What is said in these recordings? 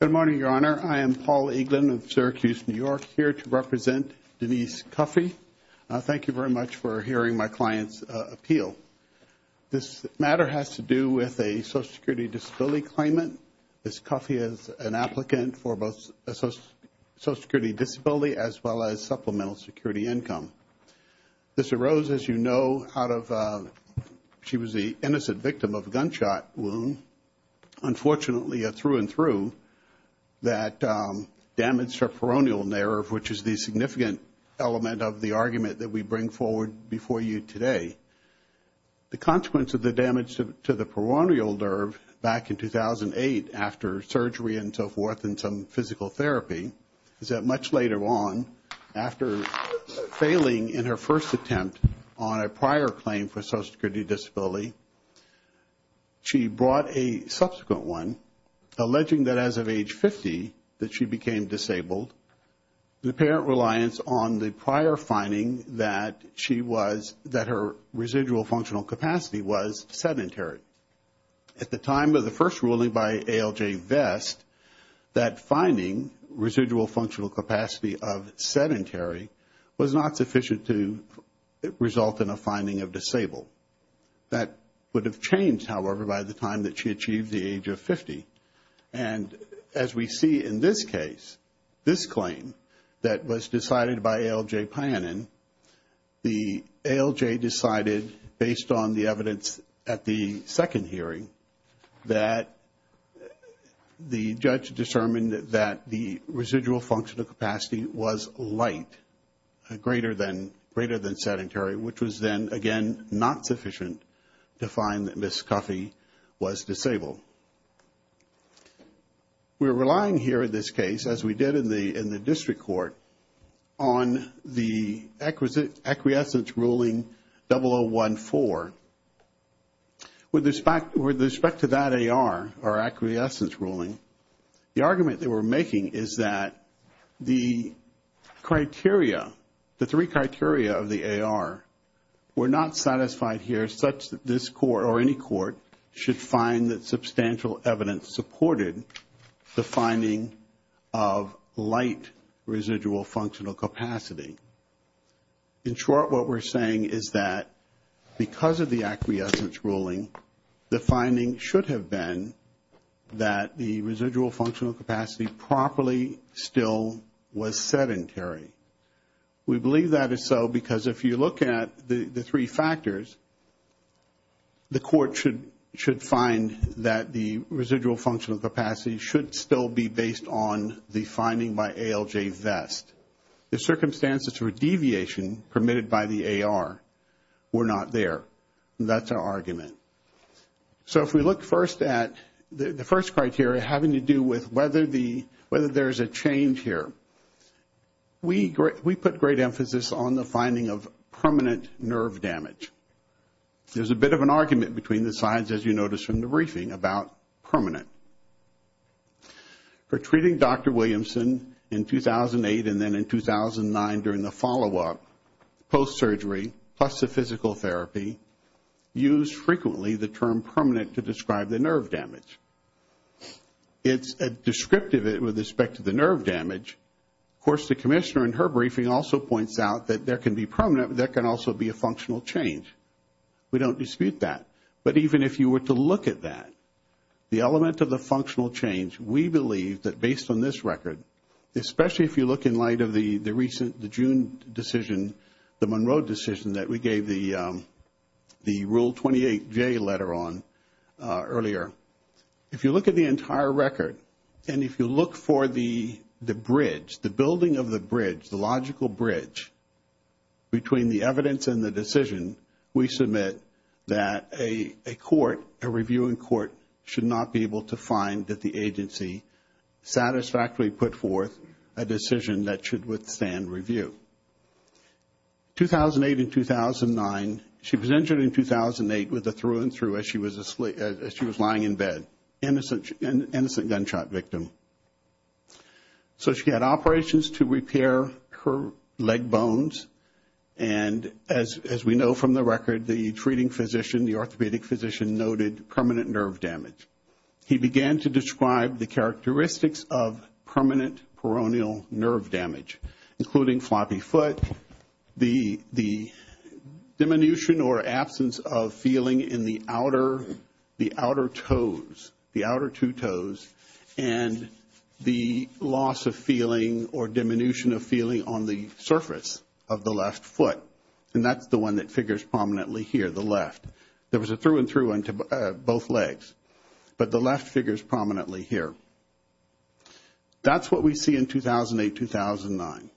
Good morning, Your Honor. I am Paul Eaglin of Syracuse, New York, here to represent Denise Cuffee. Thank you very much for hearing my client's appeal. This matter has to do with a social security disability claimant. Ms. Cuffee is an applicant for both a social security disability as well as supplemental security income. This arose, as you know, out of she was the innocent victim of a gunshot wound. Unfortunately, through and through, that damaged her peroneal nerve, which is the significant element of the argument that we bring forward before you today. The consequence of the damage to the peroneal nerve back in 2008 after surgery and so forth and some physical therapy is that much later on, after failing in her first attempt on a prior claim for social security disability, she brought a subsequent one, alleging that as of age 50 that she became disabled. The apparent reliance on the prior finding that she was, that her residual functional capacity was sedentary. At the time of the first ruling by ALJ Vest, that finding, residual functional capacity of sedentary, was not sufficient to result in a finding of disabled. That would have changed, however, by the time that she achieved the age of 50. And as we see in this case, this claim that was decided by ALJ Pianin, the ALJ decided, based on the evidence at the second hearing, that the judge determined that the residual functional capacity was light, greater than sedentary, which was then, again, not sufficient to find that Ms. Cuffee was disabled. We're relying here in this case, as we did in the district court, on the acquiescence ruling 0014. With respect to that AR, or acquiescence ruling, the argument that we're making is that the criteria, the three criteria of the AR were not satisfied here such that this court, or any court, should find that substantial evidence supported the finding of light residual functional capacity. In short, what we're saying is that because of the acquiescence ruling, the finding should have been that the residual functional capacity properly still was sedentary. We believe that is so because if you look at the three factors, the court should find that the residual functional capacity should still be based on the finding by ALJ Vest. The circumstances for deviation permitted by the AR were not there. That's our argument. So if we look first at the first criteria having to do with whether there's a change here, we put great emphasis on the finding of permanent nerve damage. There's a bit of an argument between the sides, as you notice from the briefing, about permanent. For treating Dr. Williamson in 2008 and then in 2009 during the follow-up, post-surgery, plus the physical therapy, used frequently the term permanent to describe the nerve damage. It's descriptive with respect to the nerve damage. Of course, the commissioner in her briefing also points out that there can be permanent, but there can also be a functional change. We don't dispute that. But even if you were to look at that, the element of the functional change, we believe that based on this record, especially if you look in light of the June decision, the Monroe decision that we gave the Rule 28J letter on earlier, if you look at the entire record and if you look for the bridge, the building of the bridge, the logical bridge between the evidence and the decision, we submit that a court, a reviewing court, should not be able to find that the agency satisfactorily put forth a decision that should withstand review. 2008 and 2009, she was injured in 2008 with a through-and-through as she was lying in bed. Innocent gunshot victim. So she had operations to repair her leg bones. And as we know from the record, the treating physician, the orthopedic physician, noted permanent nerve damage. He began to describe the characteristics of permanent peroneal nerve damage, including floppy foot, the diminution or absence of feeling in the outer toes, the outer two toes, and the loss of feeling or diminution of feeling on the surface of the left foot. And that's the one that figures prominently here, the left. There was a through-and-through on both legs, but the left figures prominently here. That's what we see in 2008-2009.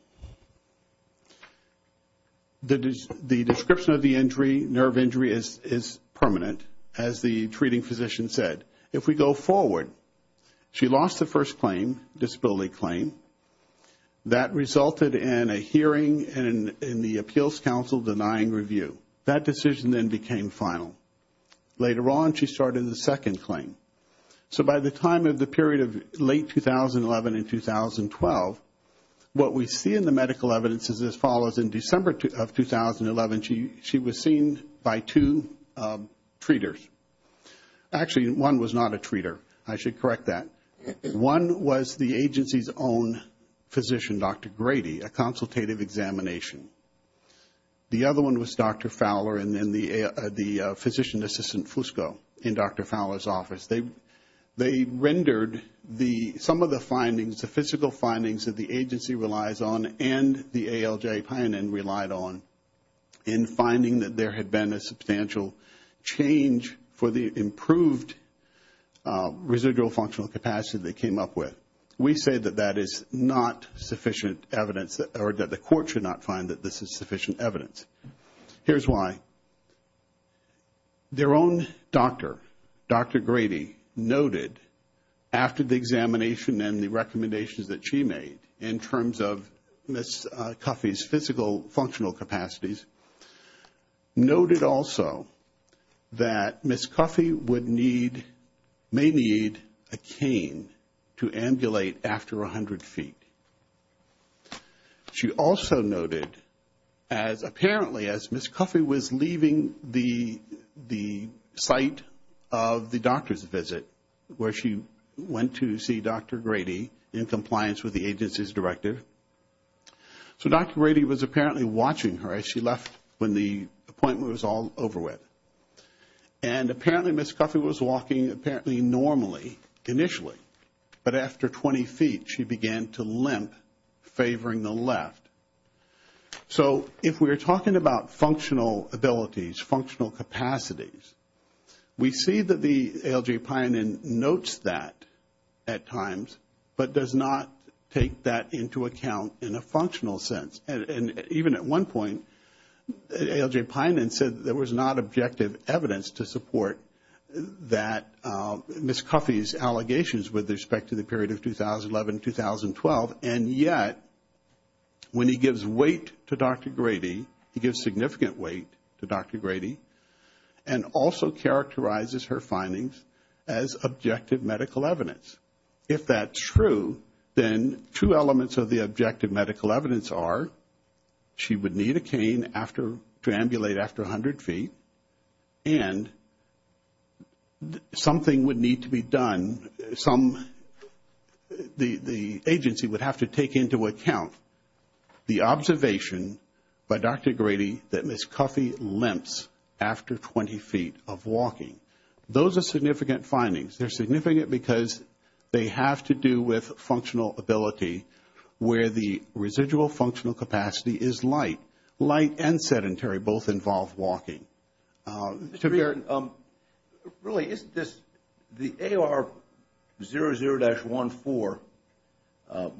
The description of the injury, nerve injury, is permanent, as the treating physician said. If we go forward, she lost the first claim, disability claim. That resulted in a hearing in the Appeals Council denying review. That decision then became final. Later on, she started the second claim. So by the time of the period of late 2011 and 2012, what we see in the medical evidence is as follows. In December of 2011, she was seen by two treaters. Actually, one was not a treater. I should correct that. One was the agency's own physician, Dr. Grady, a consultative examination. The other one was Dr. Fowler and the physician assistant, Fusco, in Dr. Fowler's office. They rendered some of the findings, the physical findings that the agency relies on and the ALJ pioneer relied on in finding that there had been a substantial change for the improved residual functional capacity they came up with. We say that that is not sufficient evidence or that the court should not find that this is sufficient evidence. Here's why. Their own doctor, Dr. Grady, noted after the examination and the recommendations that she made in terms of Ms. Cuffee's physical functional capacities, noted also that Ms. Cuffee would need, may need a cane to ambulate after 100 feet. She also noted as apparently as Ms. Cuffee was leaving the site of the doctor's visit where she went to see Dr. Grady in compliance with the agency's directive. So Dr. Grady was apparently watching her as she left when the appointment was all over with. And apparently Ms. Cuffee was walking apparently normally initially, but after 20 feet she began to limp, favoring the left. So if we're talking about functional abilities, functional capacities, we see that the ALJ pioneer notes that at times, but does not take that into account in a functional sense. And even at one point, ALJ pioneer said there was not objective evidence to support that Ms. Cuffee's allegations with respect to the period of 2011-2012, and yet when he gives weight to Dr. Grady, he gives significant weight to Dr. Grady, and also characterizes her findings as objective medical evidence. If that's true, then two elements of the objective medical evidence are she would need a cane to ambulate after 100 feet, and something would need to be done, the agency would have to take into account the observation by Dr. Grady that Ms. Cuffee limps after 20 feet of walking. Those are significant findings. They're significant because they have to do with functional ability where the residual functional capacity is light. Light and sedentary both involve walking. Mr. Baird, really isn't this the AR00-14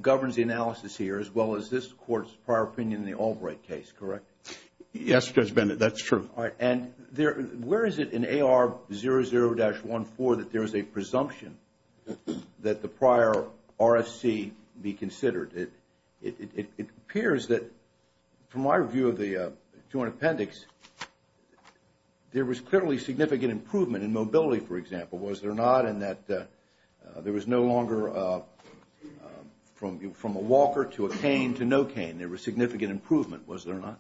governs the analysis here as well as this Court's prior opinion in the Albright case, correct? Yes, Judge Bennett, that's true. And where is it in AR00-14 that there is a presumption that the prior RFC be considered? It appears that, from my view of the Joint Appendix, there was clearly significant improvement in mobility, for example, was there not, in that there was no longer from a walker to a cane to no cane, there was significant improvement, was there not?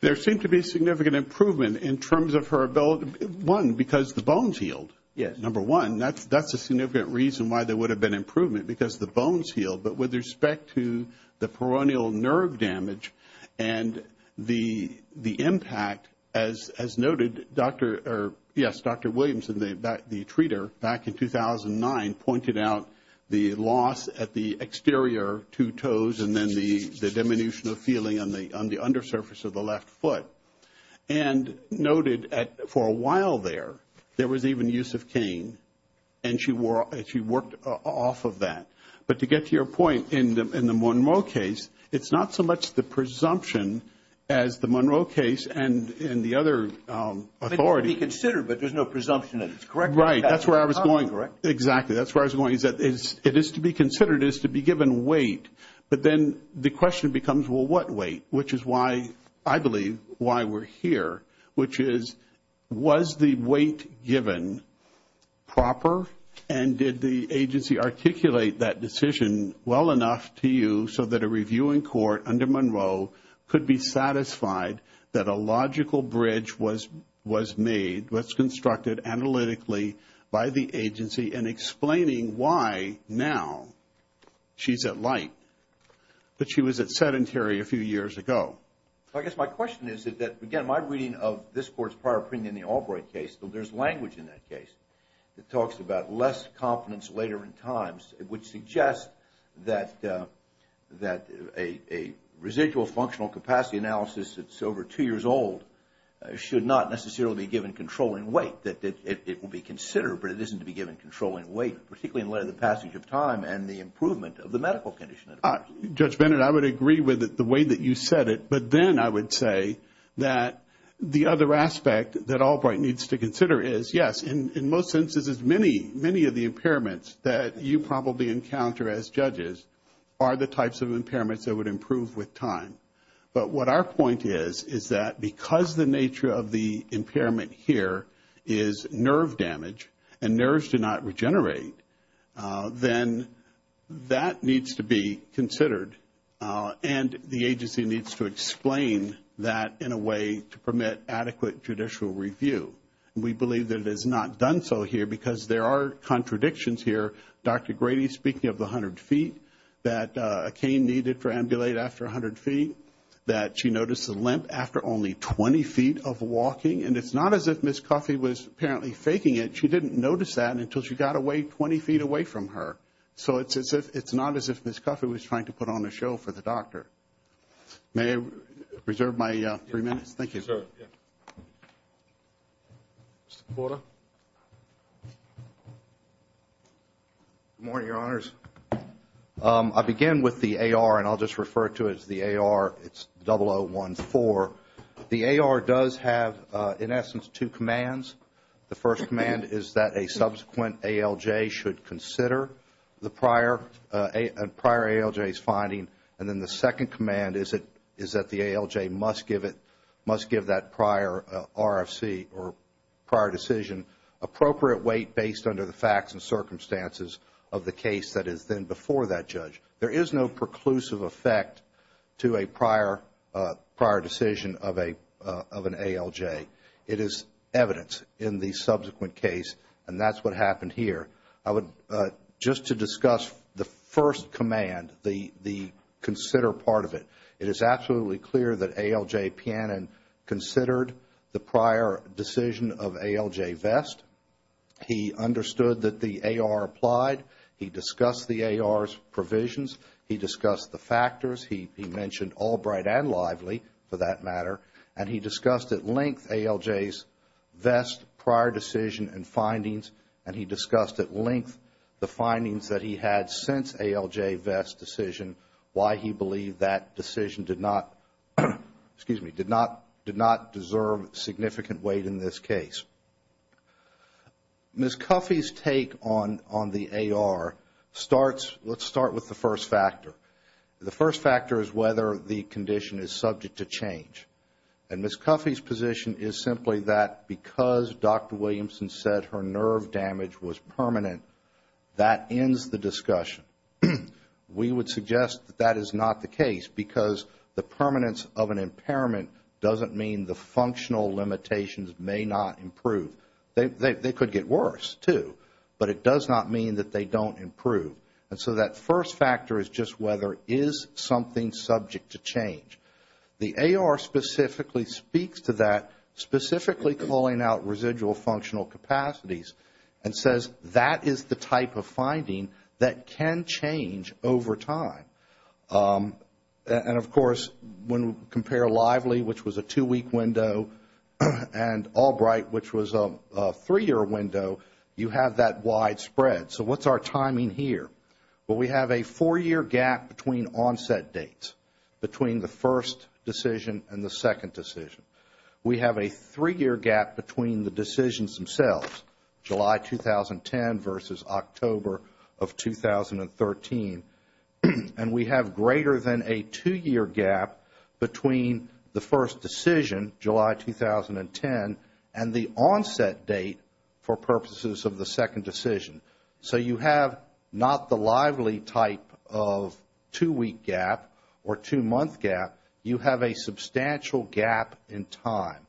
There seemed to be significant improvement in terms of her ability, one, because the bones healed, number one. That's a significant reason why there would have been improvement, because the bones healed, but with respect to the peroneal nerve damage and the impact, as noted, Dr. Williamson, the treater, back in 2009, pointed out the loss at the exterior two toes and then the diminution of feeling on the undersurface of the left foot and noted for a while there, there was even use of cane and she worked off of that. But to get to your point, in the Monroe case, it's not so much the presumption as the Monroe case and the other authority. It can be considered, but there's no presumption that it's correct. Right, that's where I was going. Exactly, that's where I was going. The question is, it is to be considered as to be given weight, but then the question becomes, well, what weight? Which is why, I believe, why we're here, which is, was the weight given proper and did the agency articulate that decision well enough to you so that a review in court under Monroe could be satisfied that a logical bridge was made, was constructed analytically by the agency and explaining why now she's at light, but she was at sedentary a few years ago. I guess my question is that, again, my reading of this court's prior opinion in the Albright case, there's language in that case that talks about less confidence later in times, which suggests that a residual functional capacity analysis that's over two years old should not necessarily be given controlling weight, but that it will be considered, but it isn't to be given controlling weight, particularly in light of the passage of time and the improvement of the medical condition. Judge Bennett, I would agree with the way that you said it, but then I would say that the other aspect that Albright needs to consider is, yes, in most senses, many of the impairments that you probably encounter as judges are the types of impairments that would improve with time. But what our point is, is that because the nature of the impairment here is nerve damage, and nerves do not regenerate, then that needs to be considered, and the agency needs to explain that in a way to permit adequate judicial review. We believe that it is not done so here because there are contradictions here. Dr. Grady, speaking of the 100 feet, that a cane needed to ambulate after 100 feet, that she noticed a limp after only 20 feet of walking, and it's not as if Ms. Coffey was apparently faking it. She didn't notice that until she got away 20 feet away from her. So it's not as if Ms. Coffey was trying to put on a show for the doctor. May I reserve my three minutes? Thank you. Mr. Porter. Good morning, Your Honors. I begin with the AR, and I'll just refer to it as the AR. It's 0014. The AR does have, in essence, two commands. The first command is that a subsequent ALJ should consider the prior ALJ's finding, and then the second command is that the ALJ must give it, must give that prior RFC, or prior decision, appropriate weight based on the facts and circumstances of the case that is then before that judge. There is no preclusive effect to a prior decision of an ALJ. It is evidence in the subsequent case, and that's what happened here. Just to discuss the first command, the consider part of it, it is absolutely clear that ALJ Pannon considered the prior decision of ALJ Vest. He understood that the AR applied. He discussed the AR's provisions. He discussed the factors. He mentioned Albright and Lively, for that matter, and he discussed at length ALJ's Vest prior decision and findings, and he discussed at length the findings that he had since ALJ Vest's decision, why he believed that decision did not, excuse me, did not deserve significant weight in this case. Ms. Cuffey's take on the AR starts, let's start with the first factor. The first factor is whether the condition is subject to change. And Ms. Cuffey's position is simply that because Dr. Williamson said her nerve damage was permanent, that ends the discussion. We would suggest that that is not the case because the permanence of an impairment doesn't mean the functional limitations may not improve. They could get worse, too, but it does not mean that they don't improve. And so that first factor is just whether is something subject to change. The AR specifically speaks to that, specifically calling out residual functional capacities and says that is the type of finding that can change over time. And, of course, when we compare Lively, which was a two-week window, and Albright, which was a three-year window, you have that widespread. So what's our timing here? Well, we have a four-year gap between onset dates, between the first decision and the second decision. We have a three-year gap between the decisions themselves, July 2010 versus October of 2013. And we have greater than a two-year gap between the first decision, July 2010, and the onset date for purposes of the second decision. So you have not the Lively type of two-week gap or two-month gap. You have a substantial gap in time.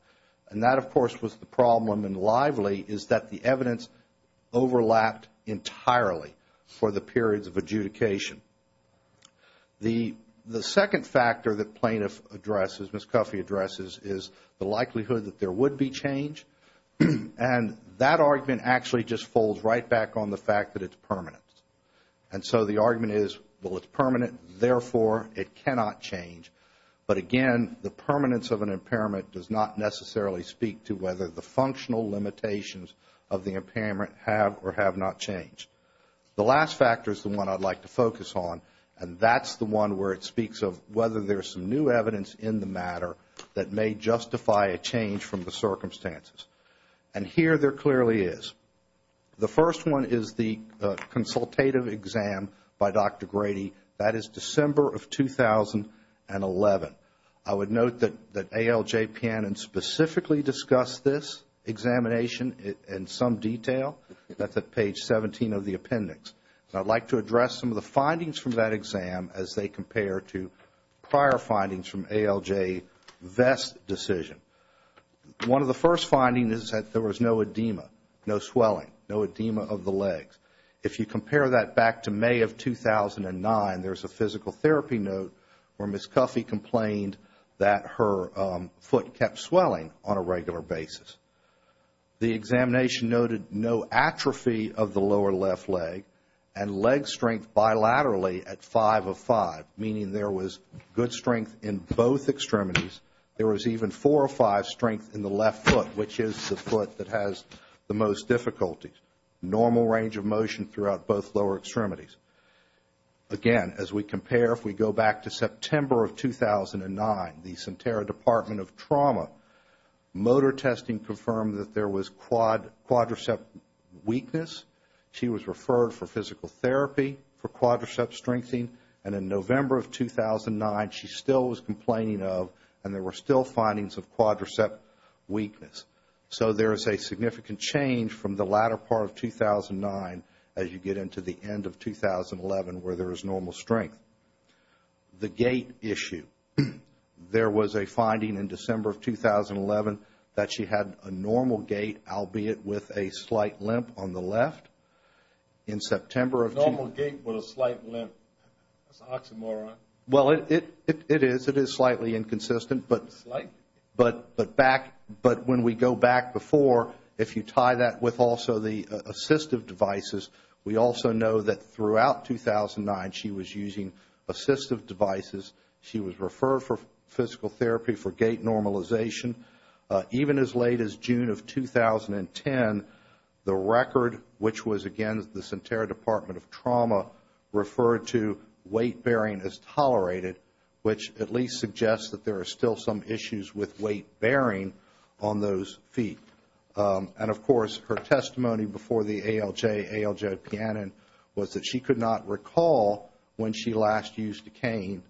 And that, of course, was the problem in Lively is that the evidence overlapped entirely for the periods of adjudication. The second factor that plaintiff addresses, Ms. Cuffey addresses, is the likelihood that there would be change. And that argument actually just falls right back on the fact that it's permanent. And so the argument is, well, it's permanent, therefore it cannot change. But again, the permanence of an impairment does not necessarily speak to whether the functional limitations of the impairment have or have not changed. The last factor is the one I'd like to focus on, and that's the one where it speaks of whether there's some new evidence in the matter that may justify a change from the circumstances. And here there clearly is. The first one is the consultative exam by Dr. Grady. That is December of 2011. I would note that ALJ Pannon specifically discussed this examination in some detail. That's at page 17 of the appendix. I'd like to address some of the findings from that exam as they compare to prior findings from ALJ Vest's decision. One of the first findings is that there was no edema, no swelling, no edema of the legs. If you compare that back to May of 2009, there's a physical therapy note where Ms. Cuffee complained that her foot kept swelling on a regular basis. The examination noted no atrophy of the lower left leg and leg strength bilaterally at 5 of 5, meaning there was good strength in both extremities. There was even 4 of 5 strength in the left foot, which is the foot that has the most difficulties. Normal range of motion throughout both lower extremities. Again, as we compare, if we go back to September of 2009, the Sentara Department of Trauma, motor testing confirmed that there was quadricep weakness. She was referred for physical therapy for quadricep strengthening. And in November of 2009, she still was complaining of and there were still findings of quadricep weakness. So there is a significant change from the latter part of 2009 as you get into the end of 2011 where there is normal strength. The gait issue. There was a finding in December of 2011 that she had a normal gait, albeit with a slight limp on the left. In September of 2009... Normal gait with a slight limp. That's an oxymoron. Well, it is. But back... But when we go back before, if you tie that with also the assistive devices, we also know that throughout 2009 she was using assistive devices. She was referred for physical therapy for gait normalization. Even as late as June of 2010, the record, which was, again, the Sentara Department of Trauma referred to weight-bearing as tolerated, which at least suggests that there were some issues with weight-bearing on those feet. And, of course, her testimony before the ALJ, ALJ-Pannon, was that she could not recall when she last used a cane.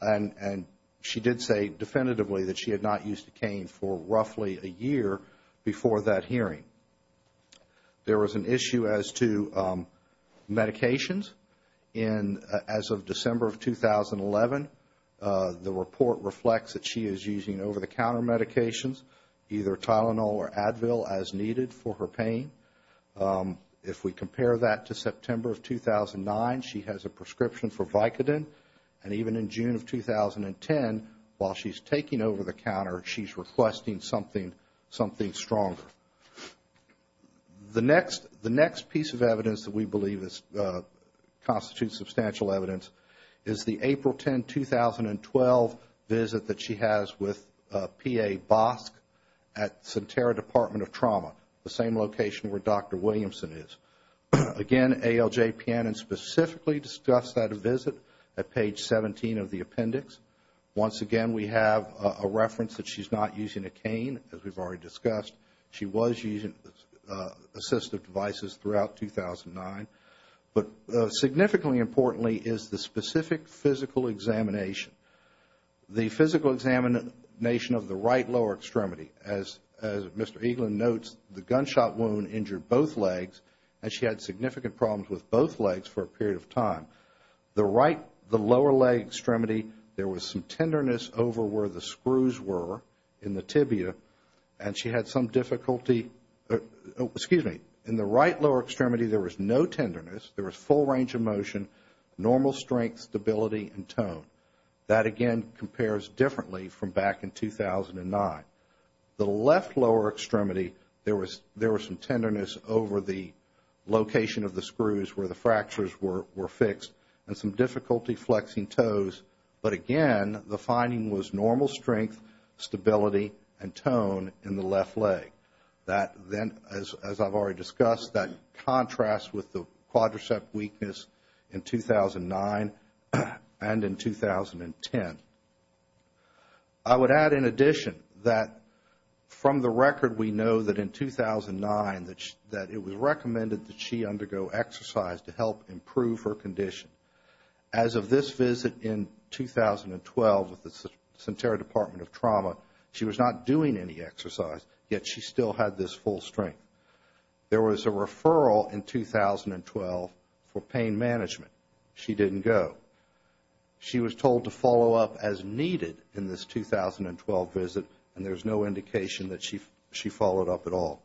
And she did say definitively that she had not used a cane for roughly a year before that hearing. There was an issue as to medications. As of December of 2011, the report reflects that she is using over-the-counter medications, either Tylenol or Advil as needed for her pain. If we compare that to September of 2009, she has a prescription for Vicodin. And even in June of 2010, while she's taking over-the-counter, she's requesting something stronger. The next piece of evidence that we believe constitutes substantial evidence is the April 10, 2012, visit that she has with P.A. Bosk at Sentara Department of Trauma, the same location where Dr. Williamson is. Again, ALJ-Pannon specifically discussed that visit at page 17 of the appendix. Once again, we have a reference that she's not using a cane, as we've already discussed. She was using assistive devices throughout 2009. But significantly importantly there was a specific physical examination. The physical examination of the right lower extremity. As Mr. Eaglin notes, the gunshot wound injured both legs, and she had significant problems with both legs for a period of time. The lower leg extremity, there was some tenderness over where the screws were in the tibia, Excuse me. In the right lower extremity there was no tenderness. There was full range of motion, strength, stability, and tone. That again compares differently from back in 2009. The left lower extremity, there was some tenderness over the location of the screws where the fractures were fixed, and some difficulty flexing toes. But again, the finding was normal strength, stability, and tone in the left leg. As I've already discussed, that contrasts with the quadricep weakness in 2009. And in 2010. I would add in addition that from the record we know that in 2009 that it was recommended that she undergo exercise to help improve her condition. As of this visit in 2012 with the Centenary Department of Trauma, she was not doing any exercise, yet she still had this full strength. There was a referral in 2012 for pain management. She didn't go. She was told to follow up as needed in this 2012 visit, and there's no indication that she followed up at all.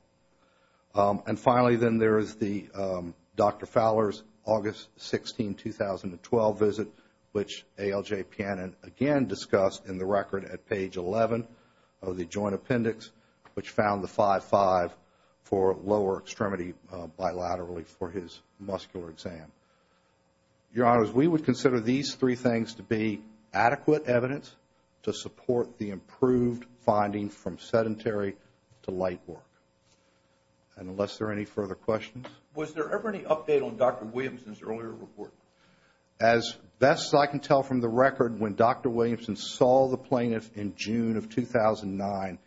And finally, then there is the Dr. Fowler's August 16, 2012 visit, which A.L.J. Pianin again discussed in the record at page 11 of the joint appendix, which found the 5-5 for lower extremity bilaterally for his muscular exam. Your Honors, we consider these three things to be adequate evidence to support the improved finding from sedentary to light work. And unless there are any further questions. Was there ever any update on Dr. Williamson's earlier report? As best as I can tell from the record, when Dr. Williamson saw the plaintiff in June of 2009,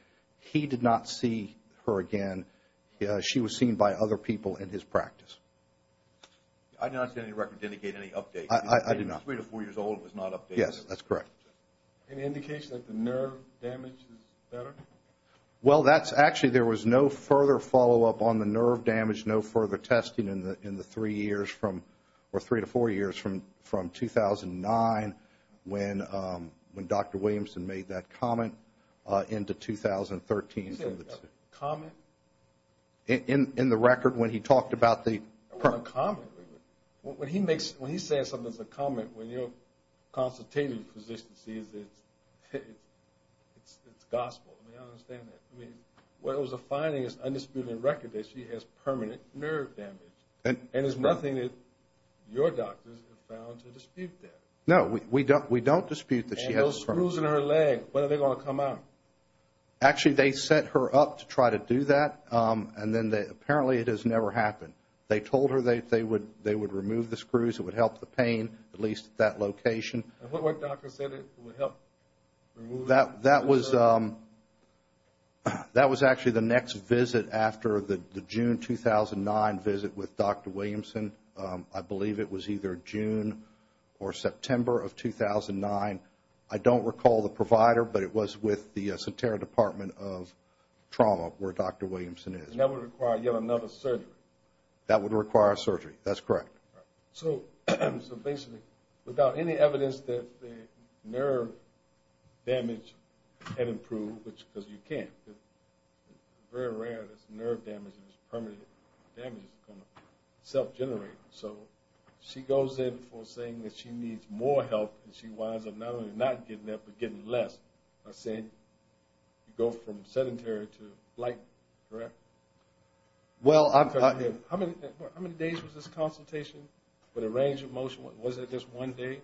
he did not see her again. She was seen by other people in his practice. I did not see any record to indicate any update. I did not. Three to four years old was not updated. Yes, that's correct. Any indication that the nerve damage is better? Well, that's actually, there was no further follow-up on the nerve damage, no further testing in the three years from, or three to four years from 2009 when Dr. Williamson made that comment into 2013. Comment? In the record, when he talked about the When he makes, when he says something as a comment, when your consultative physician sees it, it's gospel. I mean, I don't understand that. I mean, what it was a finding is undisputed in record that she has permanent nerve damage. And there's nothing that your doctors have found to dispute that. No, we don't, we don't dispute that she has permanent And those screws in her leg, when are they going to come out? Actually, they set her up to try to do that. And then they, it has never happened. They told her they would, they would remove the screws. It would help the pain, at least at that location. And what, what doctor said it would help remove That, that was, that was actually the next visit after the June 2009 visit with Dr. Williamson. I believe it was either June or September of 2009. I don't recall the provider, but it was with the Sentara Department of Trauma where Dr. Williamson is. And that would require yet another surgery. That would require surgery. That's correct. So, so basically, without any evidence that the nerve damage had improved, which, because you can't. Very rare that nerve damage is permanent. Damage is going to self-generate. So, she goes in for saying that she needs more help and she winds up not only not getting it, but getting less. By saying, you go from sedentary to light. Correct? Well, How many days was this consultation with a range of motion? Was it just one day?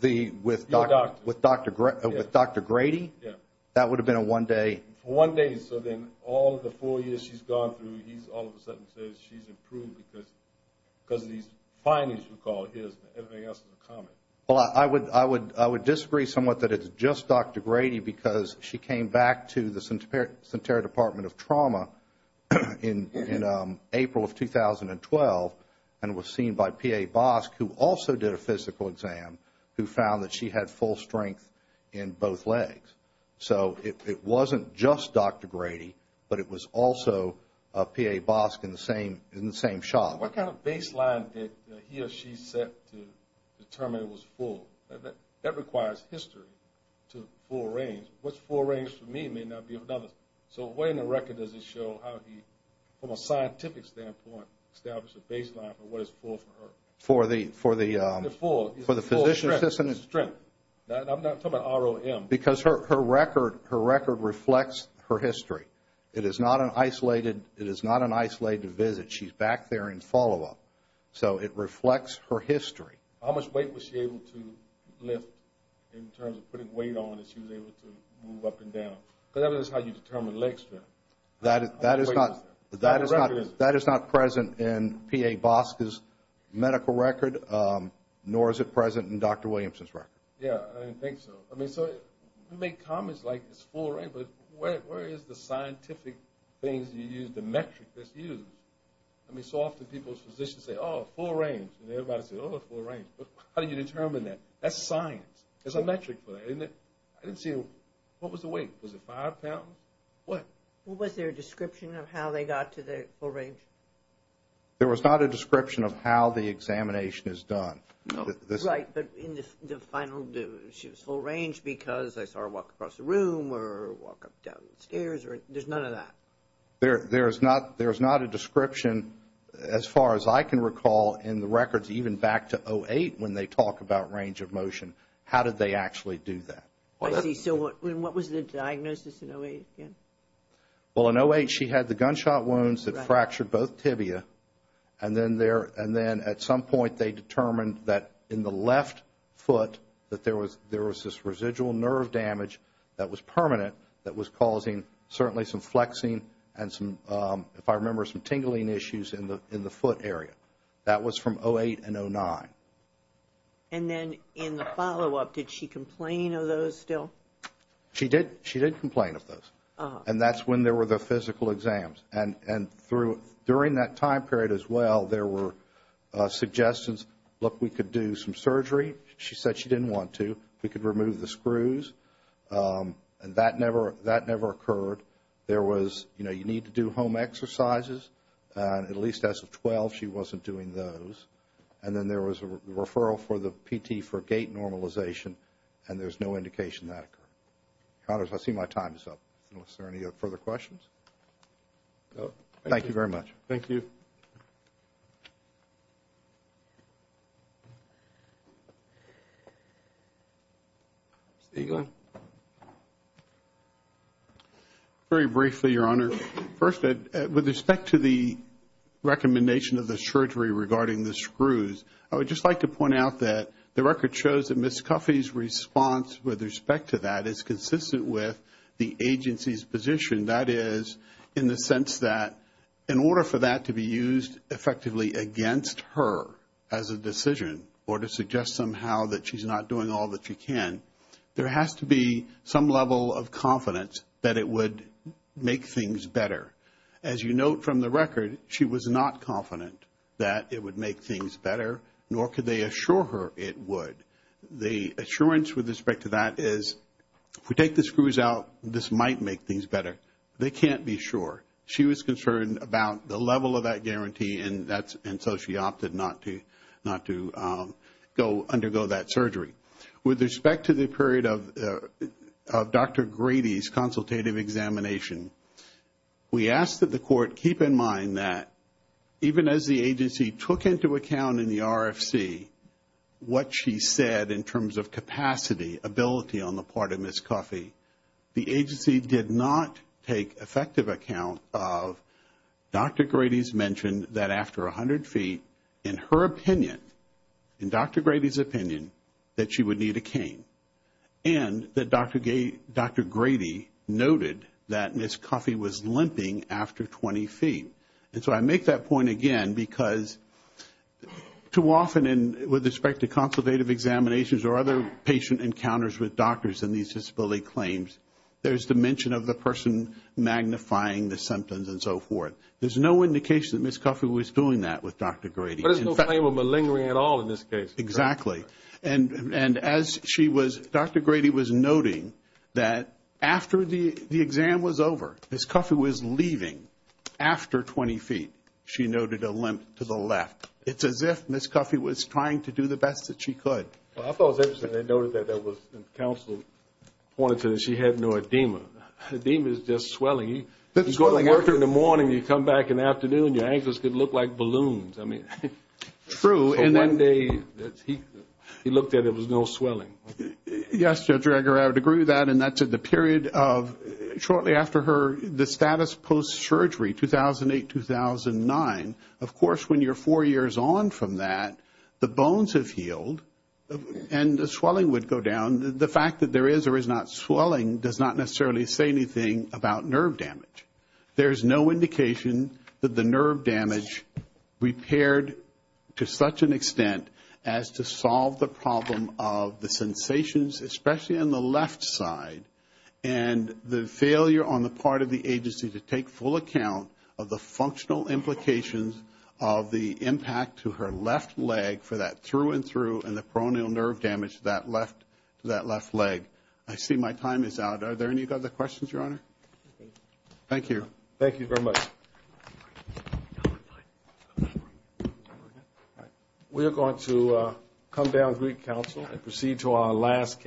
The, with Dr. With Dr. Grady? Yeah. That would have been a one day. One day. So then, all of the four years she's gone through, he's all of a sudden says she's improved because of these findings we call his and everything else is a comment. Well, I would, I would disagree somewhat that it's just Dr. Grady because she came back to the Sentara Department of Trauma in, in April of 2012 and was seen by P.A. Bosk who also did a physical exam who found that she had full strength in both legs. So, it, it wasn't just Dr. Grady, but it was also P.A. Bosk in the same, in the same shop. What kind of baseline did he or she set to determine it was full? That, that requires history to full range. What's full range for me means I mean that would be another. So, what in the record does it show how he, from a scientific standpoint, established a baseline for what is full for her? For the, for the, for the physician assistant. I'm not talking about R.O.M. Because her, her record, her record reflects her history. It is not an isolated, it is not an isolated visit. She's back there in follow up. So, it reflects her history. How much weight was she able to lift in terms of putting weight on that she was able to move up and down? Because that is how you determine leg strength. That is, that is not, that is not, that is not present in P.A. Bosk's medical record nor is it present in Dr. Williamson's record. Yeah, I didn't think so. I mean so, you make comments like it's full range but where, where is the scientific things you use, the metric that's used? I mean so often people's physicians say oh, full range. And everybody says oh, full range. How do you determine that? That's science. There's a metric for that. I didn't see, what was the weight? Was it five pounds? What? Was there a description of how they got to the full range? There was not a description of how the examination is done. Right, but in the final, she was full range because I saw her walk across the room or walk up down the stairs or there's none of that. There, there is not, there is not a description as far as I can recall in the records even back to 08 when they talk about range of motion. How did they actually do that? I see, so what, what was the diagnosis in 08 again? Well, in 08 she had the gunshot wounds that fractured both tibia and then there, they determined that in the left foot that there was, there was this residual nerve damage that was permanent that was causing certainly some flexing and some, if I recall correctly, if I remember some tingling issues in the, in the foot area. That was from 08 and 09. And then in the follow up did she complain of those still? She did, she did complain of those and that's when there were the physical exams and, and through, during that time period as well there were suggestions look, we could do some surgery. She said she didn't want to. We could remove the screws and that never, that never occurred. There was, you know, you need to do home exercises and at least as of 12 she wasn't doing those. And then there was a referral for the PT for gait normalization and there's no indication that occurred. Connors, I see my time is up. Is there any further questions? Thank you very much. Thank you. Mr. Eaglin? Very briefly, Your Honor. First, with respect to the recommendation of the surgery regarding the screws, I would just like to point out that the record shows that Ms. Cuffee's response with respect to that is consistent with the agency's position. That is, in the sense that in order for that to be used effectively against her as a decision or to suggest somehow that she's not doing all that she can, there has to be some level of confidence that it would make things better. As you note from the record, she was not confident that it would make things better, nor could they assure her it would. The assurance with respect to that is, if we take the screws out, this might make things better. They can't be sure. She was concerned about the level of that guarantee and so she opted not to go undergo that surgery. With respect to the period of Dr. Grady's consultative examination, we asked that the court keep in mind that even as the agency took into account in the RFC what she said in terms of capacity, ability, on the part of Ms. Coffey, the agency did not take effective account of Dr. Grady's mention that after 100 feet, in her opinion, in Dr. Grady's opinion, that Ms. Coffey was limping after 20 feet. So I make that point again because too often with respect to consultative examinations or other patient encounters with doctors in these disability claims, there is the mention of the person magnifying the symptoms and so forth. There is no indication that Ms. Coffey was doing that with Dr. Grady. Grady was noting that after the exam was over, Ms. Coffey was leaving after 20 feet, she noted a limp to the left. It's as if Ms. Coffey was trying to do the best that she could. I thought it was interesting that she had no edema. Edema is just swelling. You go to work in the morning and come back in the afternoon and your ankles could look like balloons. It was no swelling. Yes, I would agree with that. Shortly after her status post-surgery 2008-2009, of course, when you're four years on from that, the bones have healed and the swelling would go down. The fact that there is or is not swelling does not necessarily say anything about nerve damage. There is no indication that the nerve damage repaired to such an extent as to solve the problem of the impact to her left leg for that through and through and the peroneal nerve damage to that left leg. I see my time is out. Are there any other questions, Your Honor? Thank you. Thank you very much. We are going to come down to the Counsel and proceed to our last case.